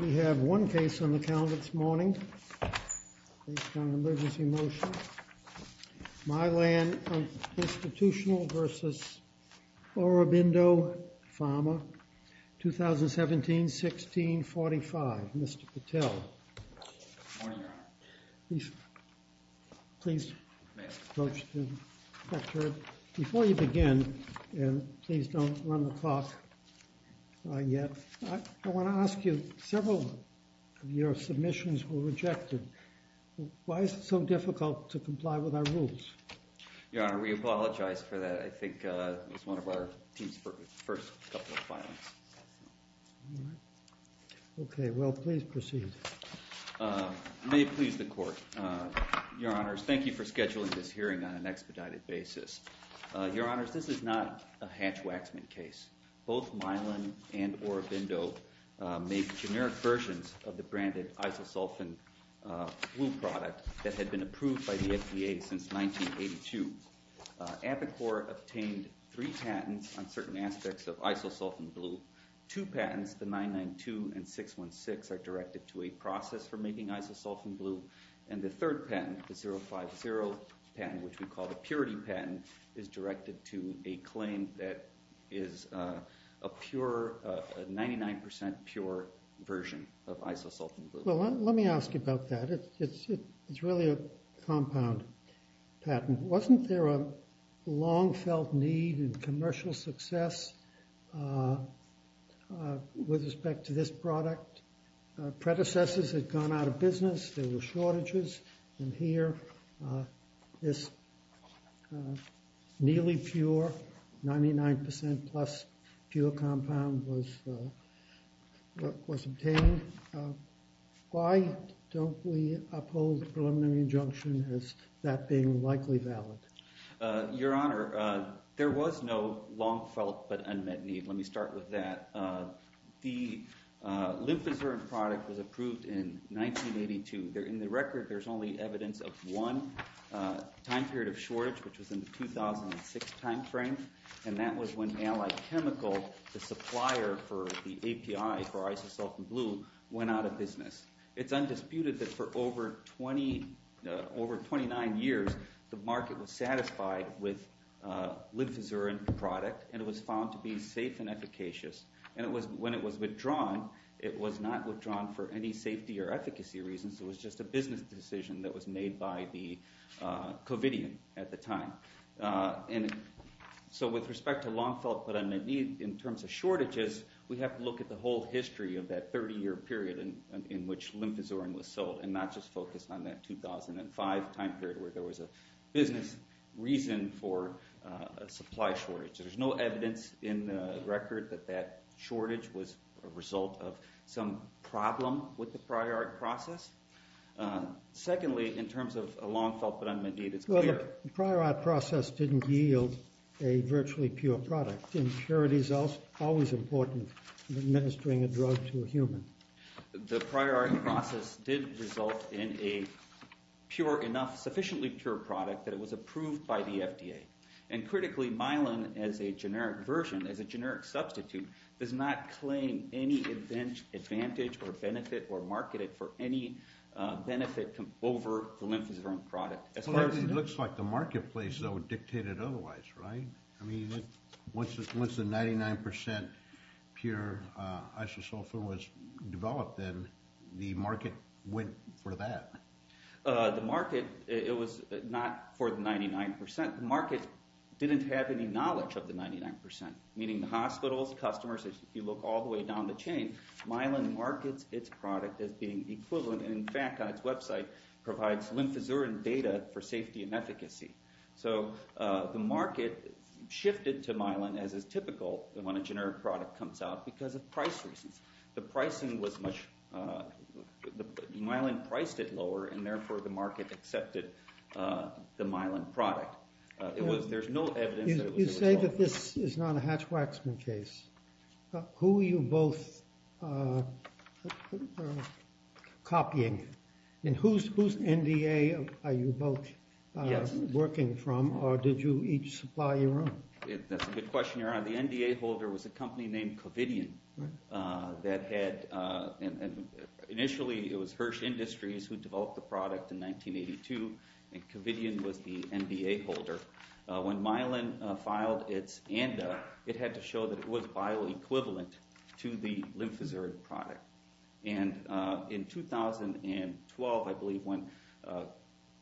We have one case on the calendar this morning, based on an emergency motion. Mylan Institutional v. Aurobindo Pharma, 2017-1645, Mr. Patel. Good morning, Your Honor. Please, please approach the specter. Before you begin, and please don't run the clock yet, I want to ask you, several of your submissions were rejected. Why is it so difficult to comply with our rules? Your Honor, we apologize for that. I think it was one of our team's first couple of filings. Okay, well, please proceed. May it please the Court, Your Honors, thank you for scheduling this hearing on an expedited basis. Your Honors, this is not a hatch-waxman case. Both Mylan and Aurobindo make generic versions of the branded isosulfan blue product that had been approved by the FDA since 1982. Apicor obtained three patents on certain aspects of isosulfan blue. Two patents, the 992 and 616, are directed to a process for making isosulfan blue. And the third patent, the 050 patent, which we call the purity patent, is directed to a claim that is a 99% pure version of isosulfan blue. Well, let me ask you about that. It's really a compound patent. Wasn't there a long-felt need in commercial success with respect to this product? Predecessors had gone out of business. There were shortages. And here, this nearly pure, 99% plus pure compound was obtained. Why don't we uphold the preliminary injunction as that being likely valid? Your Honor, there was no long-felt but unmet need. Let me start with that. The lymphoceryn product was approved in 1982. In the record, there's only evidence of one time period of shortage, which was in the 2006 time frame. And that was when Allied Chemical, the supplier for the API for isosulfan blue, went out of business. It's undisputed that for over 29 years, the market was satisfied with lymphoceryn product, and it was found to be safe and efficacious. And when it was withdrawn, it was not withdrawn for any safety or efficacy reasons. It was just a business decision that was made by the covidian at the time. So with respect to long-felt but unmet need, in terms of shortages, we have to look at the whole history of that 30-year period in which lymphoceryn was sold, and not just focus on that 2005 time period where there was a business reason for a supply shortage. There's no evidence in the record that that shortage was a result of some problem with the prior art process. Secondly, in terms of a long-felt but unmet need, it's clear. The prior art process didn't yield a virtually pure product. Impurity is always important in administering a drug to a human. The prior art process did result in a sufficiently pure product that was approved by the FDA. And critically, myelin, as a generic version, as a generic substitute, does not claim any advantage or benefit or market it for any benefit over the lymphoceryn product. It looks like the marketplace, though, dictated otherwise, right? I mean, once the 99% pure isosulfone was developed, then the market went for that. The market, it was not for the 99%. The market didn't have any knowledge of the 99%, meaning the hospitals, customers. If you look all the way down the chain, myelin markets its product as being equivalent. And in fact, on its website, it provides lymphoceryn data for safety and efficacy. So the market shifted to myelin as is typical when a generic product comes out because of price reasons. The pricing was much—myelin priced it lower, and therefore the market accepted the myelin product. There's no evidence that it was— You say that this is not a Hatch-Waxman case. Who are you both copying? And whose NDA are you both working from, or did you each supply your own? That's a good question. The NDA holder was a company named Covidian that had— Initially, it was Hirsch Industries who developed the product in 1982, and Covidian was the NDA holder. When myelin filed its ANDA, it had to show that it was bioequivalent to the lymphoceryn product. And in 2012, I believe, when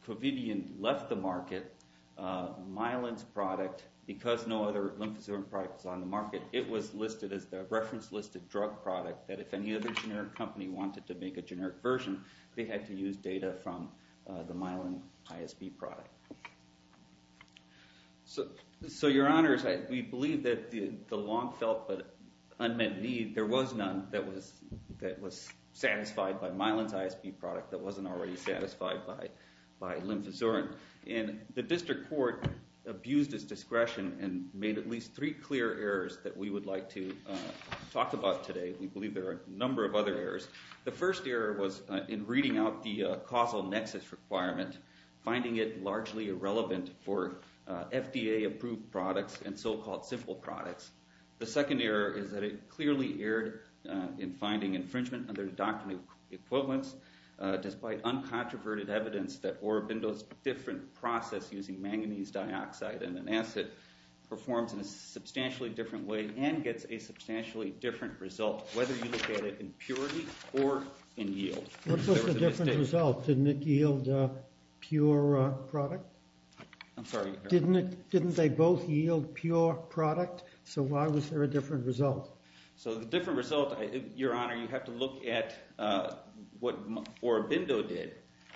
Covidian left the market, myelin's product, because no other lymphoceryn product was on the market, it was listed as the reference-listed drug product that if any other generic company wanted to make a generic version, they had to use data from the myelin ISB product. So, your honors, we believe that the long-felt but unmet need, there was none that was satisfied by myelin's ISB product that wasn't already satisfied by lymphoceryn. And the district court abused its discretion and made at least three clear errors that we would like to talk about today. We believe there are a number of other errors. The first error was in reading out the causal nexus requirement, finding it largely irrelevant for FDA-approved products and so-called simple products. The second error is that it clearly erred in finding infringement under the doctrine of equivalence, despite uncontroverted evidence that Orobindo's different process using manganese dioxide and an acid performs in a substantially different way and gets a substantially different result, whether you look at it in purity or in yield. What was the different result? Didn't it yield pure product? I'm sorry. Didn't they both yield pure product? So why was there a different result? So the different result, your honor, you have to look at what Orobindo did,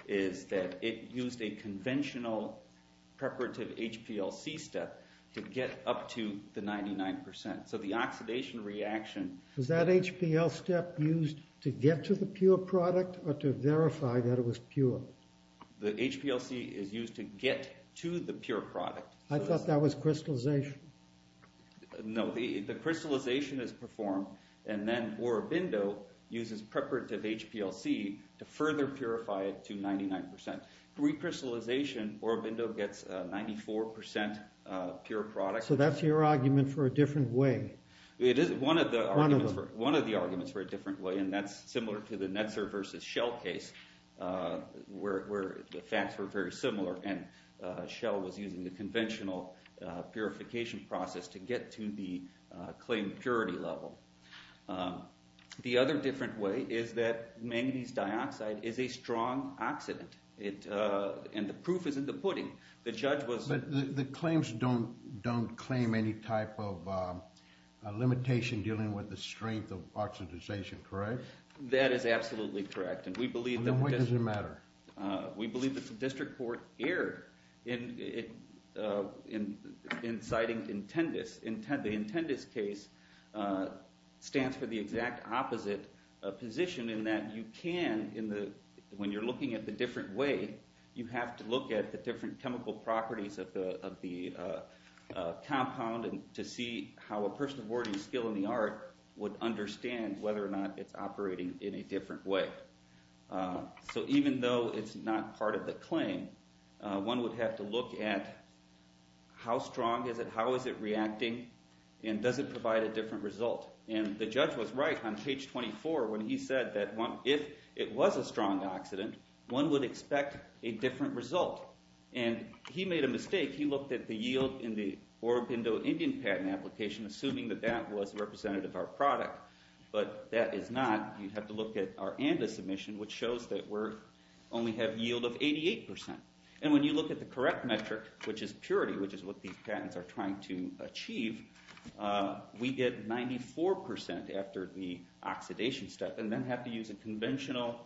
is that it used a conventional preparative HPLC step to get up to the 99%. So the oxidation reaction... Was that HPL step used to get to the pure product or to verify that it was pure? The HPLC is used to get to the pure product. I thought that was crystallization. No, the crystallization is performed and then Orobindo uses preparative HPLC to further purify it to 99%. Pre-crystallization, Orobindo gets 94% pure product. So that's your argument for a different way. One of the arguments for a different way, and that's similar to the Netzer versus Shell case, where the facts were very similar and Shell was using the conventional purification process to get to the claimed purity level. The other different way is that manganese dioxide is a strong oxidant, and the proof is in the pudding. But the claims don't claim any type of limitation dealing with the strength of oxidization, correct? That is absolutely correct. Then why does it matter? We believe that the district court erred in citing intendus. The intendus case stands for the exact opposite position in that you can, when you're looking at the different way, you have to look at the different chemical properties of the compound to see how a person of wording skill in the art would understand whether or not it's operating in a different way. So even though it's not part of the claim, one would have to look at how strong is it, how is it reacting, and does it provide a different result? And the judge was right on page 24 when he said that if it was a strong oxidant, one would expect a different result. And he made a mistake. He looked at the yield in the Oro Pinto Indian patent application, assuming that that was representative of our product. But that is not. You have to look at our ANDA submission, which shows that we only have yield of 88%. And when you look at the correct metric, which is purity, which is what these patents are trying to achieve, we get 94% after the oxidation step and then have to use a conventional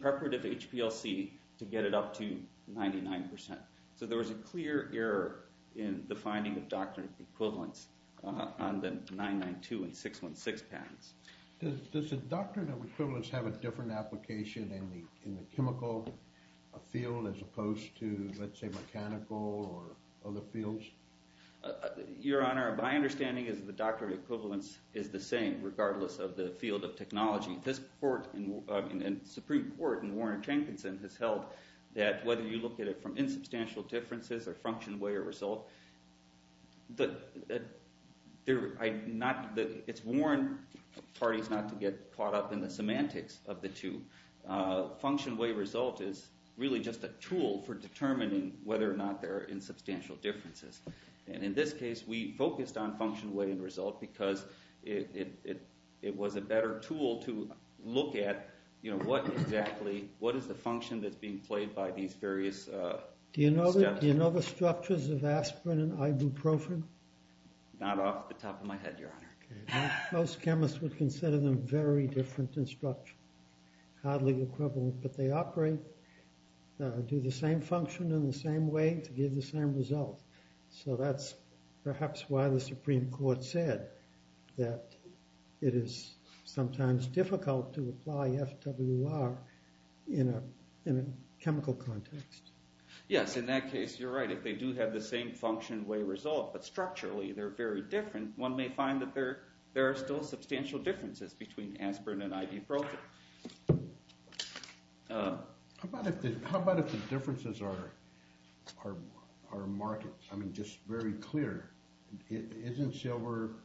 preparative HPLC to get it up to 99%. So there was a clear error in the finding of doctrinal equivalence on the 992 and 616 patents. Does the doctrinal equivalence have a different application in the chemical field as opposed to, let's say, mechanical or other fields? Your Honor, my understanding is the doctrinal equivalence is the same, regardless of the field of technology. The Supreme Court in Warren and Jenkinson has held that whether you look at it from insubstantial differences or function, way, or result, it's warned parties not to get caught up in the semantics of the two. Function, way, result is really just a tool for determining whether or not there are insubstantial differences. And in this case, we focused on function, way, and result because it was a better tool to look at what exactly, what is the function that's being played by these various steps. Do you know the structures of aspirin and ibuprofen? Not off the top of my head, Your Honor. Most chemists would consider them very different in structure. Hardly equivalent, but they operate, do the same function in the same way to give the same result. So that's perhaps why the Supreme Court said that it is sometimes difficult to apply FWR in a chemical context. Yes, in that case, you're right. They do have the same function, way, result, but structurally they're very different. One may find that there are still substantial differences between aspirin and ibuprofen. How about if the differences are marked, I mean, just very clear? Isn't silver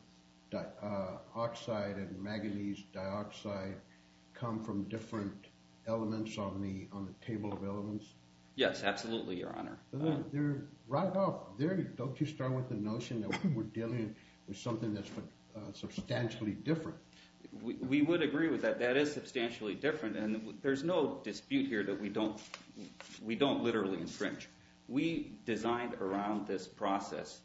oxide and manganese dioxide come from different elements on the table of elements? Yes, absolutely, Your Honor. Right off, don't you start with the notion that we're dealing with something that's substantially different? We would agree with that. That is substantially different, and there's no dispute here that we don't literally infringe. We designed around this process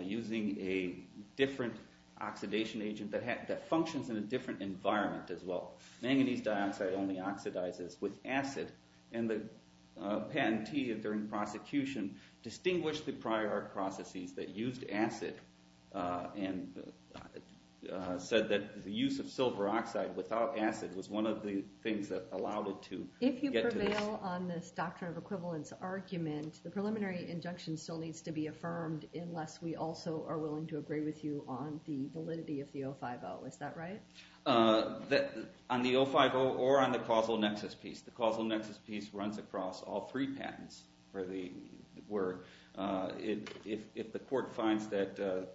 using a different oxidation agent that functions in a different environment as well. Manganese dioxide only oxidizes with acid, and the patentee during prosecution distinguished the prior processes that used acid and said that the use of silver oxide without acid was one of the things that allowed it to get to this. If you prevail on this doctrine of equivalence argument, the preliminary injunction still needs to be affirmed unless we also are willing to agree with you on the validity of the 050. Is that right? On the 050 or on the causal nexus piece, the causal nexus piece runs across all three patents for the word. If the court finds that the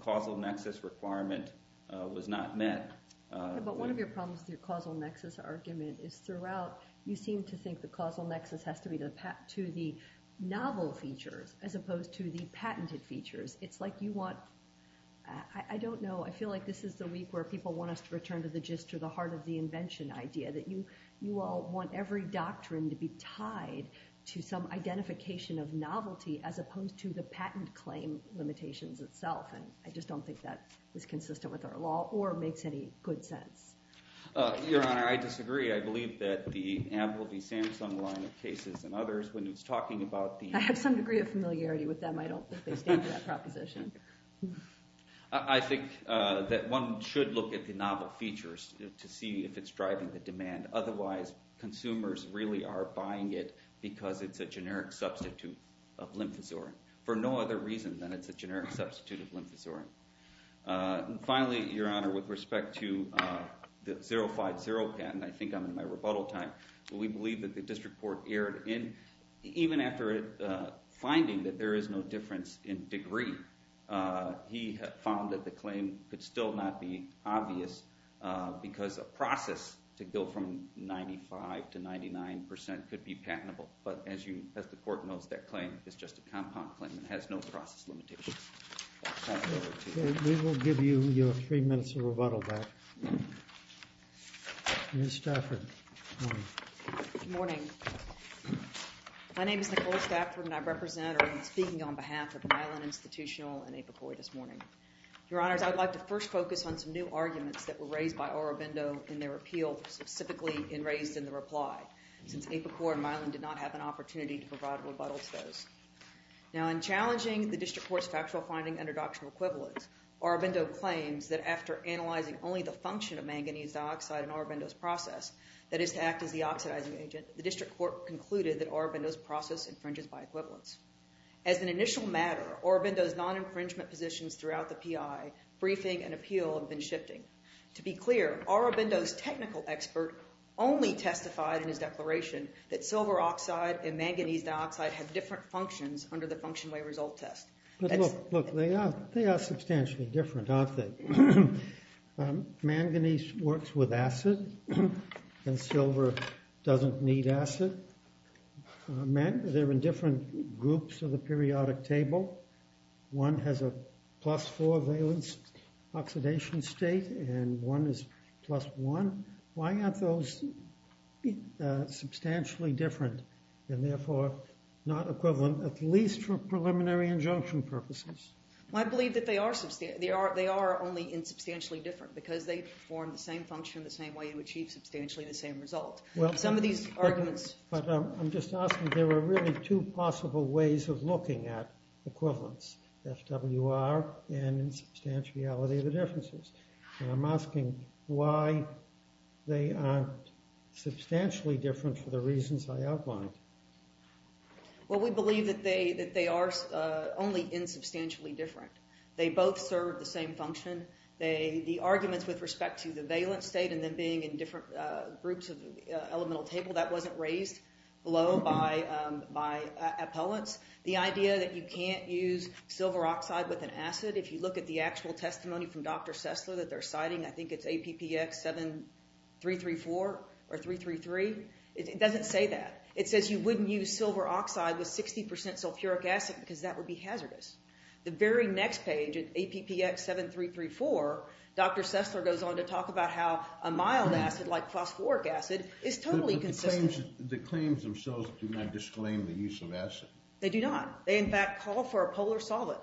causal nexus requirement was not met... But one of your problems with your causal nexus argument is throughout, you seem to think the causal nexus has to be to the novel features as opposed to the patented features. It's like you want... I don't know. I feel like this is the week where people want us to return to the gist or the heart of the invention idea, that you all want every doctrine to be tied to some identification of novelty as opposed to the patent claim limitations itself. And I just don't think that is consistent with our law or makes any good sense. Your Honor, I disagree. I believe that the Amble v. Samson line of cases and others, when it's talking about the... I have some degree of familiarity with them. I don't think they stand for that proposition. I think that one should look at the novel features to see if it's driving the demand. Otherwise, consumers really are buying it because it's a generic substitute of lymphosorin, for no other reason than it's a generic substitute of lymphosorin. Finally, Your Honor, with respect to the 050 patent, I think I'm in my rebuttal time. We believe that the district court erred in... even after finding that there is no difference in degree, he found that the claim could still not be obvious because a process to go from 95% to 99% could be patentable. But as the court knows, that claim is just a compound claim. It has no process limitations. We will give you your three minutes of rebuttal back. Ms. Stafford. Good morning. My name is Nicole Stafford, and I represent or am speaking on behalf of Milan Institutional and APICOR this morning. Your Honors, I would like to first focus on some new arguments that were raised by Aurobindo in their appeal, specifically raised in the reply, since APICOR and Milan did not have an opportunity to provide a rebuttal to those. Now, in challenging the district court's factual finding under doctrinal equivalence, Aurobindo claims that after analyzing only the function of manganese dioxide in Aurobindo's process, that is to act as the oxidizing agent, the district court concluded that Aurobindo's process infringes by equivalence. As an initial matter, Aurobindo's non-infringement positions throughout the PI briefing and appeal have been shifting. To be clear, Aurobindo's technical expert only testified in his declaration that silver oxide and manganese dioxide have different functions under the function way result test. But look, they are substantially different, aren't they? Manganese works with acid, and silver doesn't need acid. They're in different groups of the periodic table. One has a plus four valence oxidation state, and one is plus one. Why aren't those substantially different, and therefore not equivalent, at least for preliminary injunction purposes? Well, I believe that they are only insubstantially different, because they form the same function in the same way to achieve substantially the same result. Some of these arguments... But I'm just asking, there are really two possible ways of looking at equivalence, FWR and in substantiality, the differences. And I'm asking why they aren't substantially different for the reasons I outlined. Well, we believe that they are only insubstantially different. They both serve the same function. The arguments with respect to the valence state and them being in different groups of the elemental table, that wasn't raised below by appellants. The idea that you can't use silver oxide with an acid, if you look at the actual testimony from Dr. Sesler that they're citing, I think it's APPX 7334 or 333, it doesn't say that. It says you wouldn't use silver oxide with 60% sulfuric acid, because that would be hazardous. The very next page at APPX 7334, Dr. Sesler goes on to talk about how a mild acid, like phosphoric acid, is totally consistent. The claims themselves do not disclaim the use of acid. They do not. They, in fact, call for a polar solid.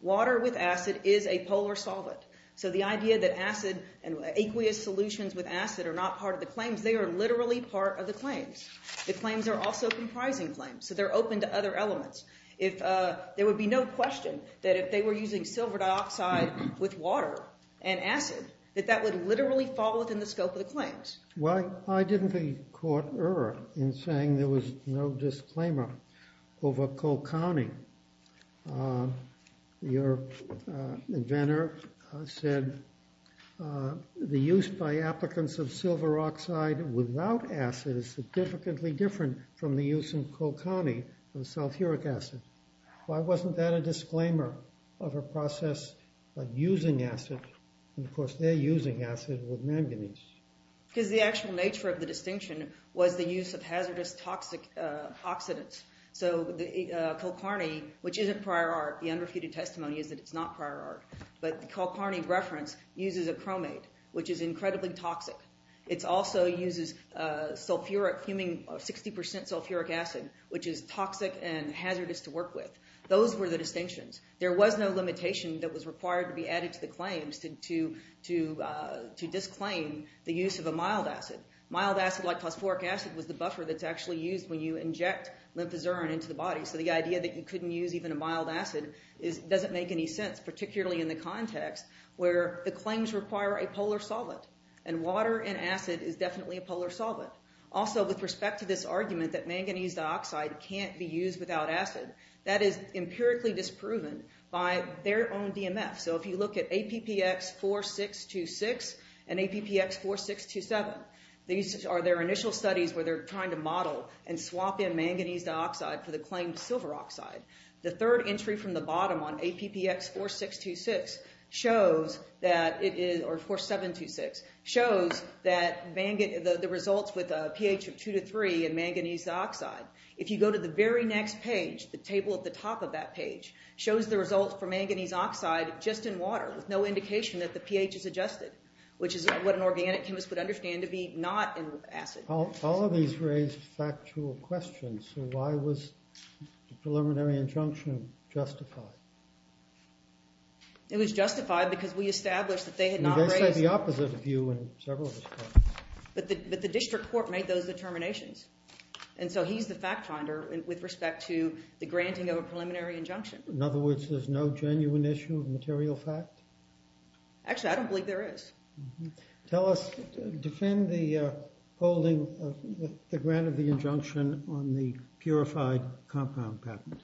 Water with acid is a polar solid. So the idea that acid and aqueous solutions with acid are not part of the claims, they are literally part of the claims. The claims are also comprising claims, so they're open to other elements. There would be no question that if they were using silver dioxide with water and acid, Why didn't the court err in saying there was no disclaimer over Colcani? Your inventor said, the use by applicants of silver oxide without acid is significantly different from the use in Colcani of sulfuric acid. Why wasn't that a disclaimer of a process of using acid? And, of course, they're using acid with manganese. Because the actual nature of the distinction was the use of hazardous toxic oxidants. So Colcani, which is a prior art, the unrefuted testimony is that it's not prior art, but the Colcani reference uses a chromate, which is incredibly toxic. It also uses sulfuric, 60% sulfuric acid, which is toxic and hazardous to work with. Those were the distinctions. There was no limitation that was required to be added to the claims to disclaim the use of a mild acid. Mild acid, like phosphoric acid, was the buffer that's actually used when you inject lymphazurin into the body. So the idea that you couldn't use even a mild acid doesn't make any sense, particularly in the context where the claims require a polar solvent. And water and acid is definitely a polar solvent. Also, with respect to this argument that manganese dioxide can't be used without acid, that is empirically disproven by their own DMF. So if you look at APPX 4626 and APPX 4627, these are their initial studies where they're trying to model and swap in manganese dioxide for the claimed silver oxide. The third entry from the bottom on APPX 4626 shows that it is— or 4726—shows that the results with a pH of 2 to 3 in manganese dioxide, if you go to the very next page, the table at the top of that page, shows the results for manganese oxide just in water with no indication that the pH is adjusted, which is what an organic chemist would understand to be not in acid. All of these raised factual questions. So why was the preliminary injunction justified? It was justified because we established that they had not raised— They said the opposite of you in several of those cases. But the district court made those determinations. And so he's the fact finder with respect to the granting of a preliminary injunction. In other words, there's no genuine issue of material fact? Actually, I don't believe there is. Tell us—defend the holding of the grant of the injunction on the purified compound patent.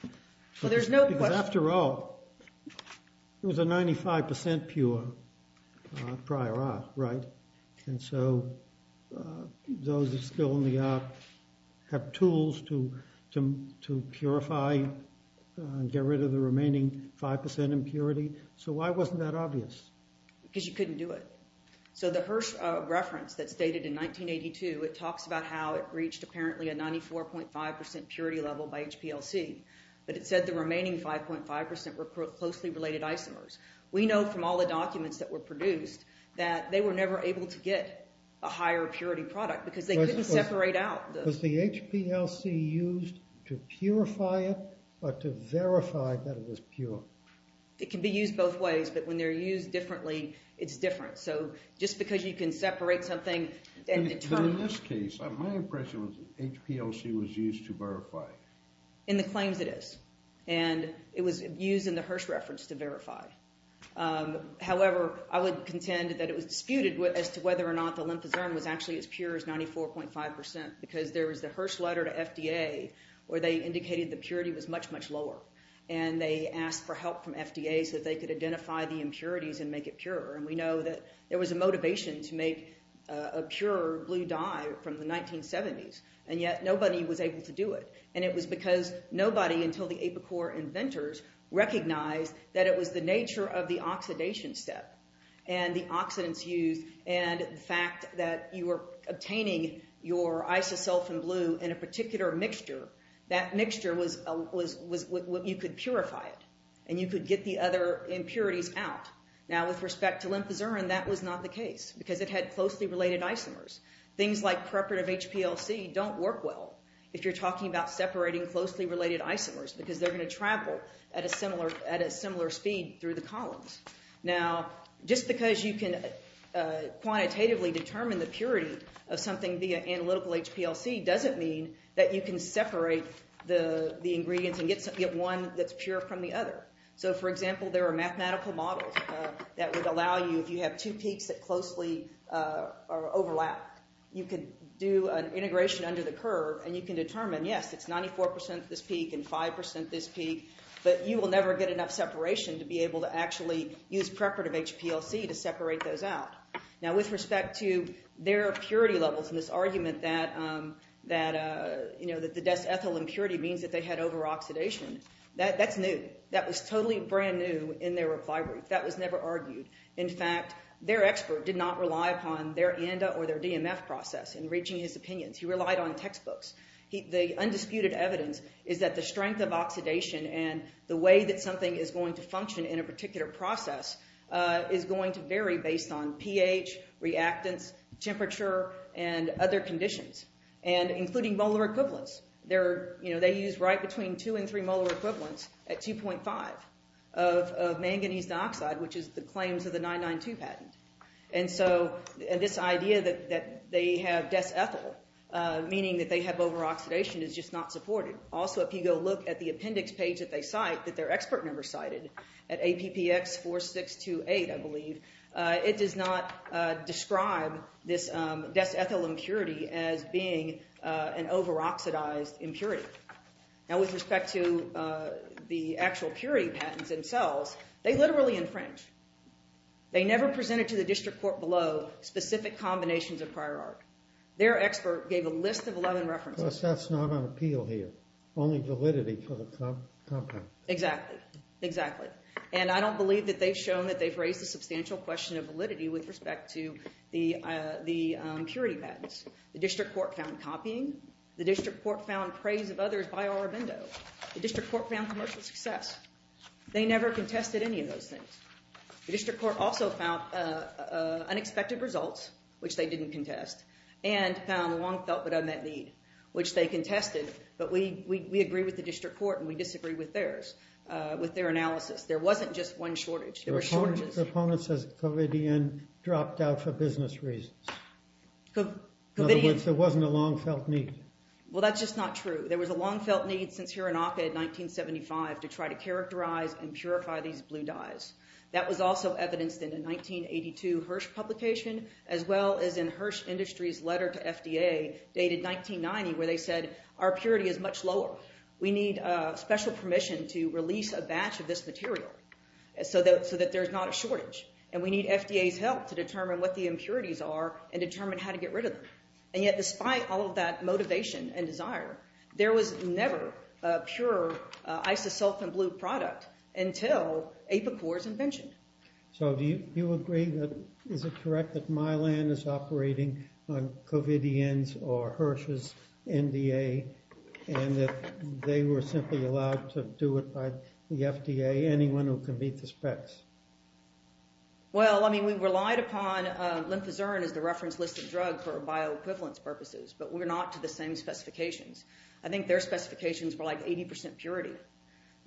Well, there's no question— Because after all, it was a 95% pure prior art, right? And so those still in the art have tools to purify and get rid of the remaining 5% impurity. So why wasn't that obvious? Because you couldn't do it. So the Hirsch reference that's dated in 1982, it talks about how it reached apparently a 94.5% purity level by HPLC. But it said the remaining 5.5% were closely related isomers. We know from all the documents that were produced that they were never able to get a higher purity product because they couldn't separate out the— Was the HPLC used to purify it or to verify that it was pure? It can be used both ways. But when they're used differently, it's different. So just because you can separate something and determine— But in this case, my impression was that HPLC was used to verify. In the claims, it is. And it was used in the Hirsch reference to verify. However, I would contend that it was disputed as to whether or not the lymphocene was actually as pure as 94.5% because there was the Hirsch letter to FDA where they indicated the purity was much, much lower. And they asked for help from FDA so that they could identify the impurities and make it pure. And we know that there was a motivation to make a pure blue dye from the 1970s. And yet nobody was able to do it. And it was because nobody until the apicor inventors recognized that it was the nature of the oxidation step and the oxidants used and the fact that you were obtaining your isosulfan blue in a particular mixture. That mixture was—you could purify it. And you could get the other impurities out. Now, with respect to lymphocene, that was not the case because it had closely related isomers. Things like preparative HPLC don't work well if you're talking about separating closely related isomers because they're going to travel at a similar speed through the columns. Now, just because you can quantitatively determine the purity of something via analytical HPLC doesn't mean that you can separate the ingredients and get one that's pure from the other. So, for example, there are mathematical models that would allow you, if you have two peaks that closely overlap, you could do an integration under the curve and you can determine, yes, it's 94% this peak and 5% this peak, but you will never get enough separation to be able to actually use preparative HPLC to separate those out. Now, with respect to their purity levels and this argument that the ethyl impurity means that they had over-oxidation, that's new. That was totally brand new in their recovery. That was never argued. In fact, their expert did not rely upon their ANDA or their DMF process in reaching his opinions. He relied on textbooks. The undisputed evidence is that the strength of oxidation and the way that something is going to function in a particular process is going to vary based on pH, reactants, temperature, and other conditions, including molar equivalents. They use right between two and three molar equivalents at 2.5 of manganese dioxide, which is the claims of the 992 patent. And so this idea that they have desethyl, meaning that they have over-oxidation, is just not supported. Also, if you go look at the appendix page that they cite, that their expert member cited, at APPX 4628, I believe, it does not describe this desethyl impurity as being an over-oxidized impurity. Now, with respect to the actual purity patents themselves, they literally infringe. They never presented to the district court below specific combinations of prior art. Their expert gave a list of 11 references. Plus, that's not on appeal here, only validity for the compound. Exactly, exactly. And I don't believe that they've shown that they've raised a substantial question of validity with respect to the impurity patents. The district court found copying. The district court found praise of others by Aurobindo. The district court found commercial success. They never contested any of those things. The district court also found unexpected results, which they didn't contest, and found a long-felt-but-unmet need, which they contested, but we agree with the district court and we disagree with theirs, with their analysis. There wasn't just one shortage. There were shortages. The opponent says Covidien dropped out for business reasons. In other words, there wasn't a long-felt need. Well, that's just not true. There was a long-felt need since Hiranaka in 1975 to try to characterize and purify these blue dyes. That was also evidenced in a 1982 Hirsch publication as well as in Hirsch Industries' letter to FDA dated 1990 where they said our purity is much lower. We need special permission to release a batch of this material so that there's not a shortage, and we need FDA's help to determine what the impurities are and determine how to get rid of them. And yet despite all of that motivation and desire, there was never a pure isosulfan blue product until Apicor's invention. So do you agree that... Is it correct that Mylan is operating on Covidien's or Hirsch's NDA and that they were simply allowed to do it by the FDA, anyone who can meet the specs? Well, I mean, we relied upon lymphozerin as the reference list of drugs for bioequivalence purposes, but we're not to the same specifications. I think their specifications were like 80% purity.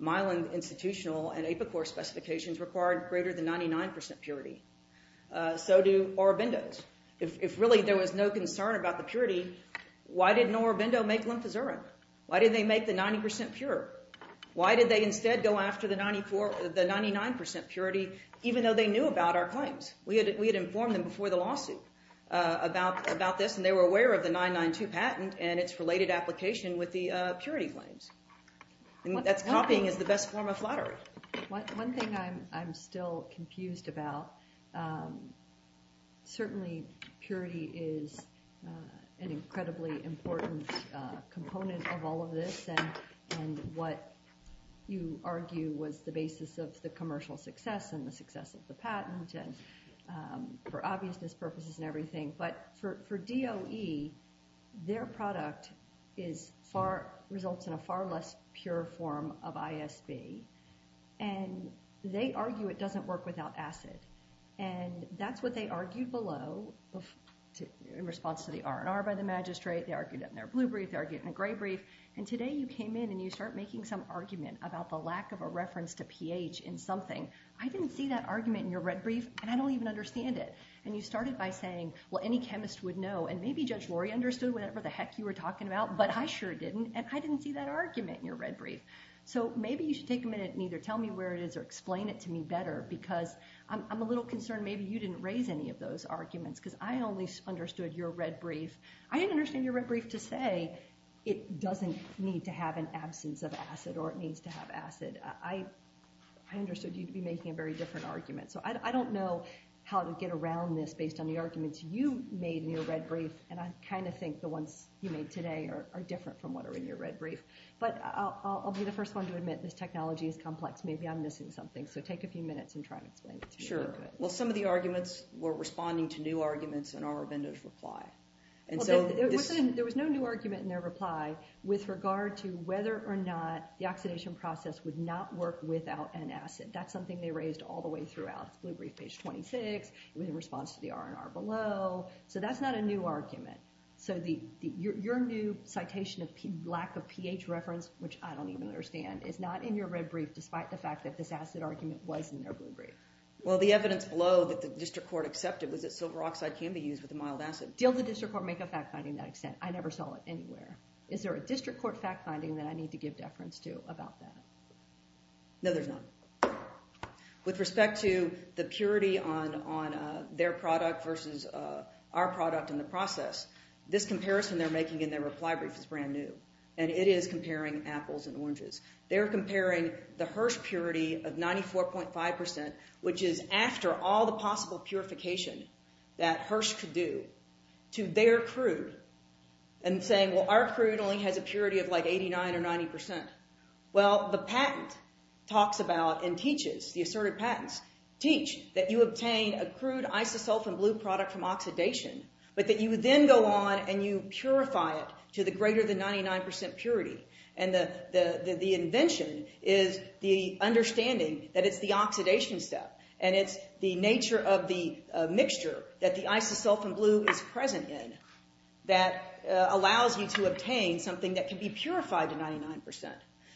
Mylan institutional and Apicor specifications required greater than 99% purity. So do Aurobindo's. If really there was no concern about the purity, why didn't Aurobindo make lymphozerin? Why didn't they make the 90% pure? Why did they instead go after the 99% purity even though they knew about our claims? We had informed them before the lawsuit about this, and they were aware of the 992 patent and its related application with the purity claims. That's copying is the best form of flattery. One thing I'm still confused about, certainly purity is an incredibly important component of all of this, and what you argue was the basis of the commercial success and the success of the patent and for obviousness purposes and everything. But for DOE, their product results in a far less pure form of ISB, and they argue it doesn't work without acid, and that's what they argued below in response to the R&R by the magistrate. They argued it in their blue brief. They argued it in a gray brief, and today you came in and you start making some argument about the lack of a reference to pH in something. I didn't see that argument in your red brief, and I don't even understand it, and you started by saying, well, any chemist would know, and maybe Judge Lori understood whatever the heck you were talking about, but I sure didn't, and I didn't see that argument in your red brief. So maybe you should take a minute and either tell me where it is or explain it to me better, because I'm a little concerned maybe you didn't raise any of those arguments because I only understood your red brief. I didn't understand your red brief to say it doesn't need to have an absence of acid or it needs to have acid. I understood you'd be making a very different argument, so I don't know how to get around this based on the arguments you made in your red brief, and I kind of think the ones you made today are different from what are in your red brief. But I'll be the first one to admit this technology is complex. Maybe I'm missing something, so take a few minutes and try to explain it to me. Sure. Well, some of the arguments were responding to new arguments in Armavendo's reply. There was no new argument in their reply with regard to whether or not the oxidation process would not work without an acid. That's something they raised all the way throughout. That's blue brief page 26. It was in response to the R&R below. So that's not a new argument. So your new citation of lack of pH reference, which I don't even understand, is not in your red brief despite the fact that this acid argument was in their blue brief. Well, the evidence below that the district court accepted was that silver oxide can be used with a mild acid. Did the district court make a fact finding to that extent? I never saw it anywhere. Is there a district court fact finding that I need to give deference to about that? No, there's not. With respect to the purity on their product versus our product in the process, this comparison they're making in their reply brief is brand new, and it is comparing apples and oranges. They're comparing the Hirsch purity of 94.5%, which is after all the possible purification that Hirsch could do to their crude and saying, well, our crude only has a purity of like 89% or 90%. Well, the patent talks about and teaches, the asserted patents teach that you obtain a crude isosulfan blue product from oxidation, but that you then go on and you purify it to the greater than 99% purity, and the invention is the understanding that it's the oxidation step, and it's the nature of the mixture that the isosulfan blue is present in that allows you to obtain something that can be purified to 99%,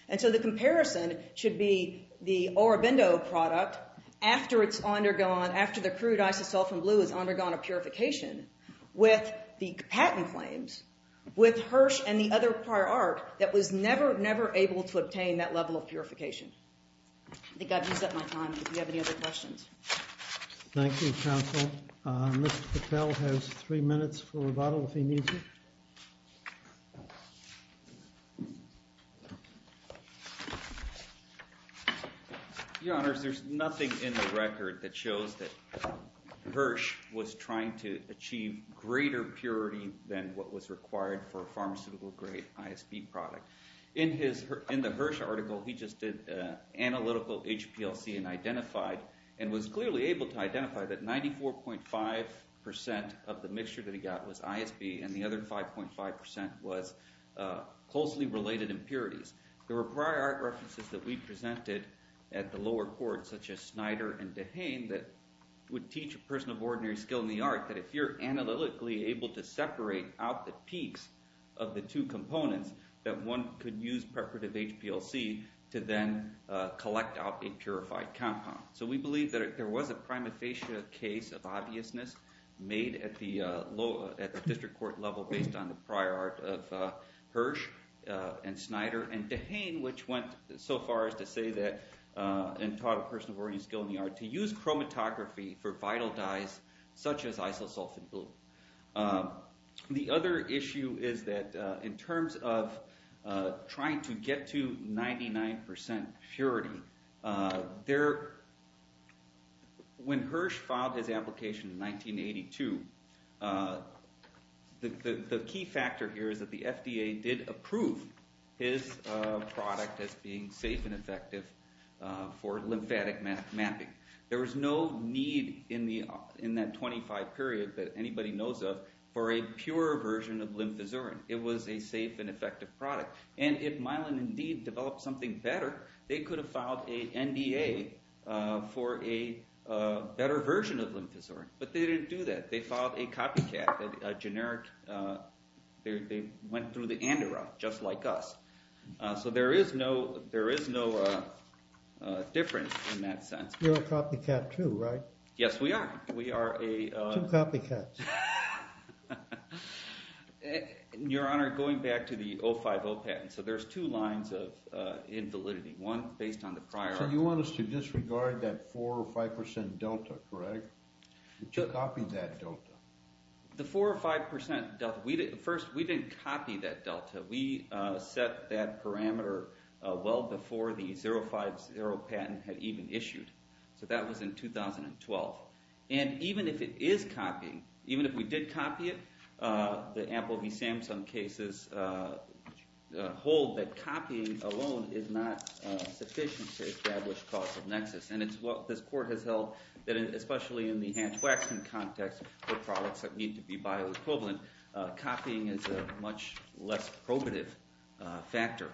and so the comparison should be the Orobindo product after the crude isosulfan blue has undergone a purification with the patent claims with Hirsch and the other prior art that was never, never able to obtain that level of purification. I think I've used up my time. Do you have any other questions? Thank you, counsel. Mr. Patel has three minutes for rebuttal if he needs it. Your Honors, there's nothing in the record that shows that Hirsch was trying to achieve greater purity than what was required for a pharmaceutical grade ISB product. In the Hirsch article, he just did analytical HPLC and identified and was clearly able to identify that 94.5% of the mixture that he got was ISB, and the other 5.5% was closely related impurities. There were prior art references that we presented at the lower court such as Snyder and DeHaan that would teach a person of ordinary skill in the art that if you're analytically able to separate out the peaks of the two components, that one could use preparative HPLC to then collect out a purified compound. So we believe that there was a prima facie case of obviousness made at the district court level based on the prior art of Hirsch and Snyder and DeHaan which went so far as to say that and taught a person of ordinary skill in the art to use chromatography for vital dyes such as isosulfan blue. The other issue is that in terms of trying to get to 99% purity, when Hirsch filed his application in 1982, the key factor here is that the FDA did approve his product as being safe and effective for lymphatic mapping. There was no need in that 25 period that anybody knows of for a pure version of lymphazurin. It was a safe and effective product. And if Mylan indeed developed something better, they could have filed an NDA for a better version of lymphazurin. But they didn't do that. They filed a copycat, a generic... They went through the ANDA route, just like us. So there is no difference in that sense. You're a copycat too, right? Yes, we are. We are a... Two copycats. Your Honor, going back to the 050 patent, so there's two lines of invalidity. One, based on the prior... So you want us to disregard that 4 or 5% delta, correct? To copy that delta. The 4 or 5% delta... First, we didn't copy that delta. We set that parameter well before the 050 patent had even issued. So that was in 2012. And even if it is copying, even if we did copy it, the Apple v. Samsung cases hold that copying alone is not sufficient to establish causal nexus. And it's what this court has held that especially in the Hans Waxman context for products that need to be bioequivalent, copying is a much less probative factor.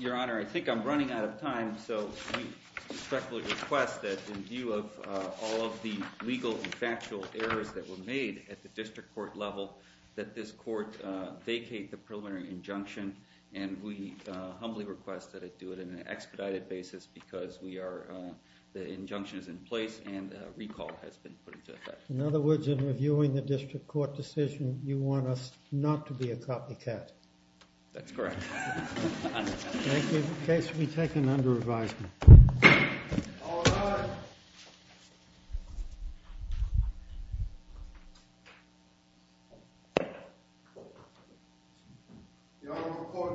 Your Honor, I think I'm running out of time, so we respectfully request that in view of all of the legal and factual errors that were made at the district court level, that this court vacate the preliminary injunction, and we humbly request that it do it in an expedited basis because the injunction is in place and recall has been put into effect. In other words, in reviewing the district court decision, you want us not to be a copycat. That's correct. Thank you. The case will be taken under advisement. All rise. Your Honor, court is adjourned.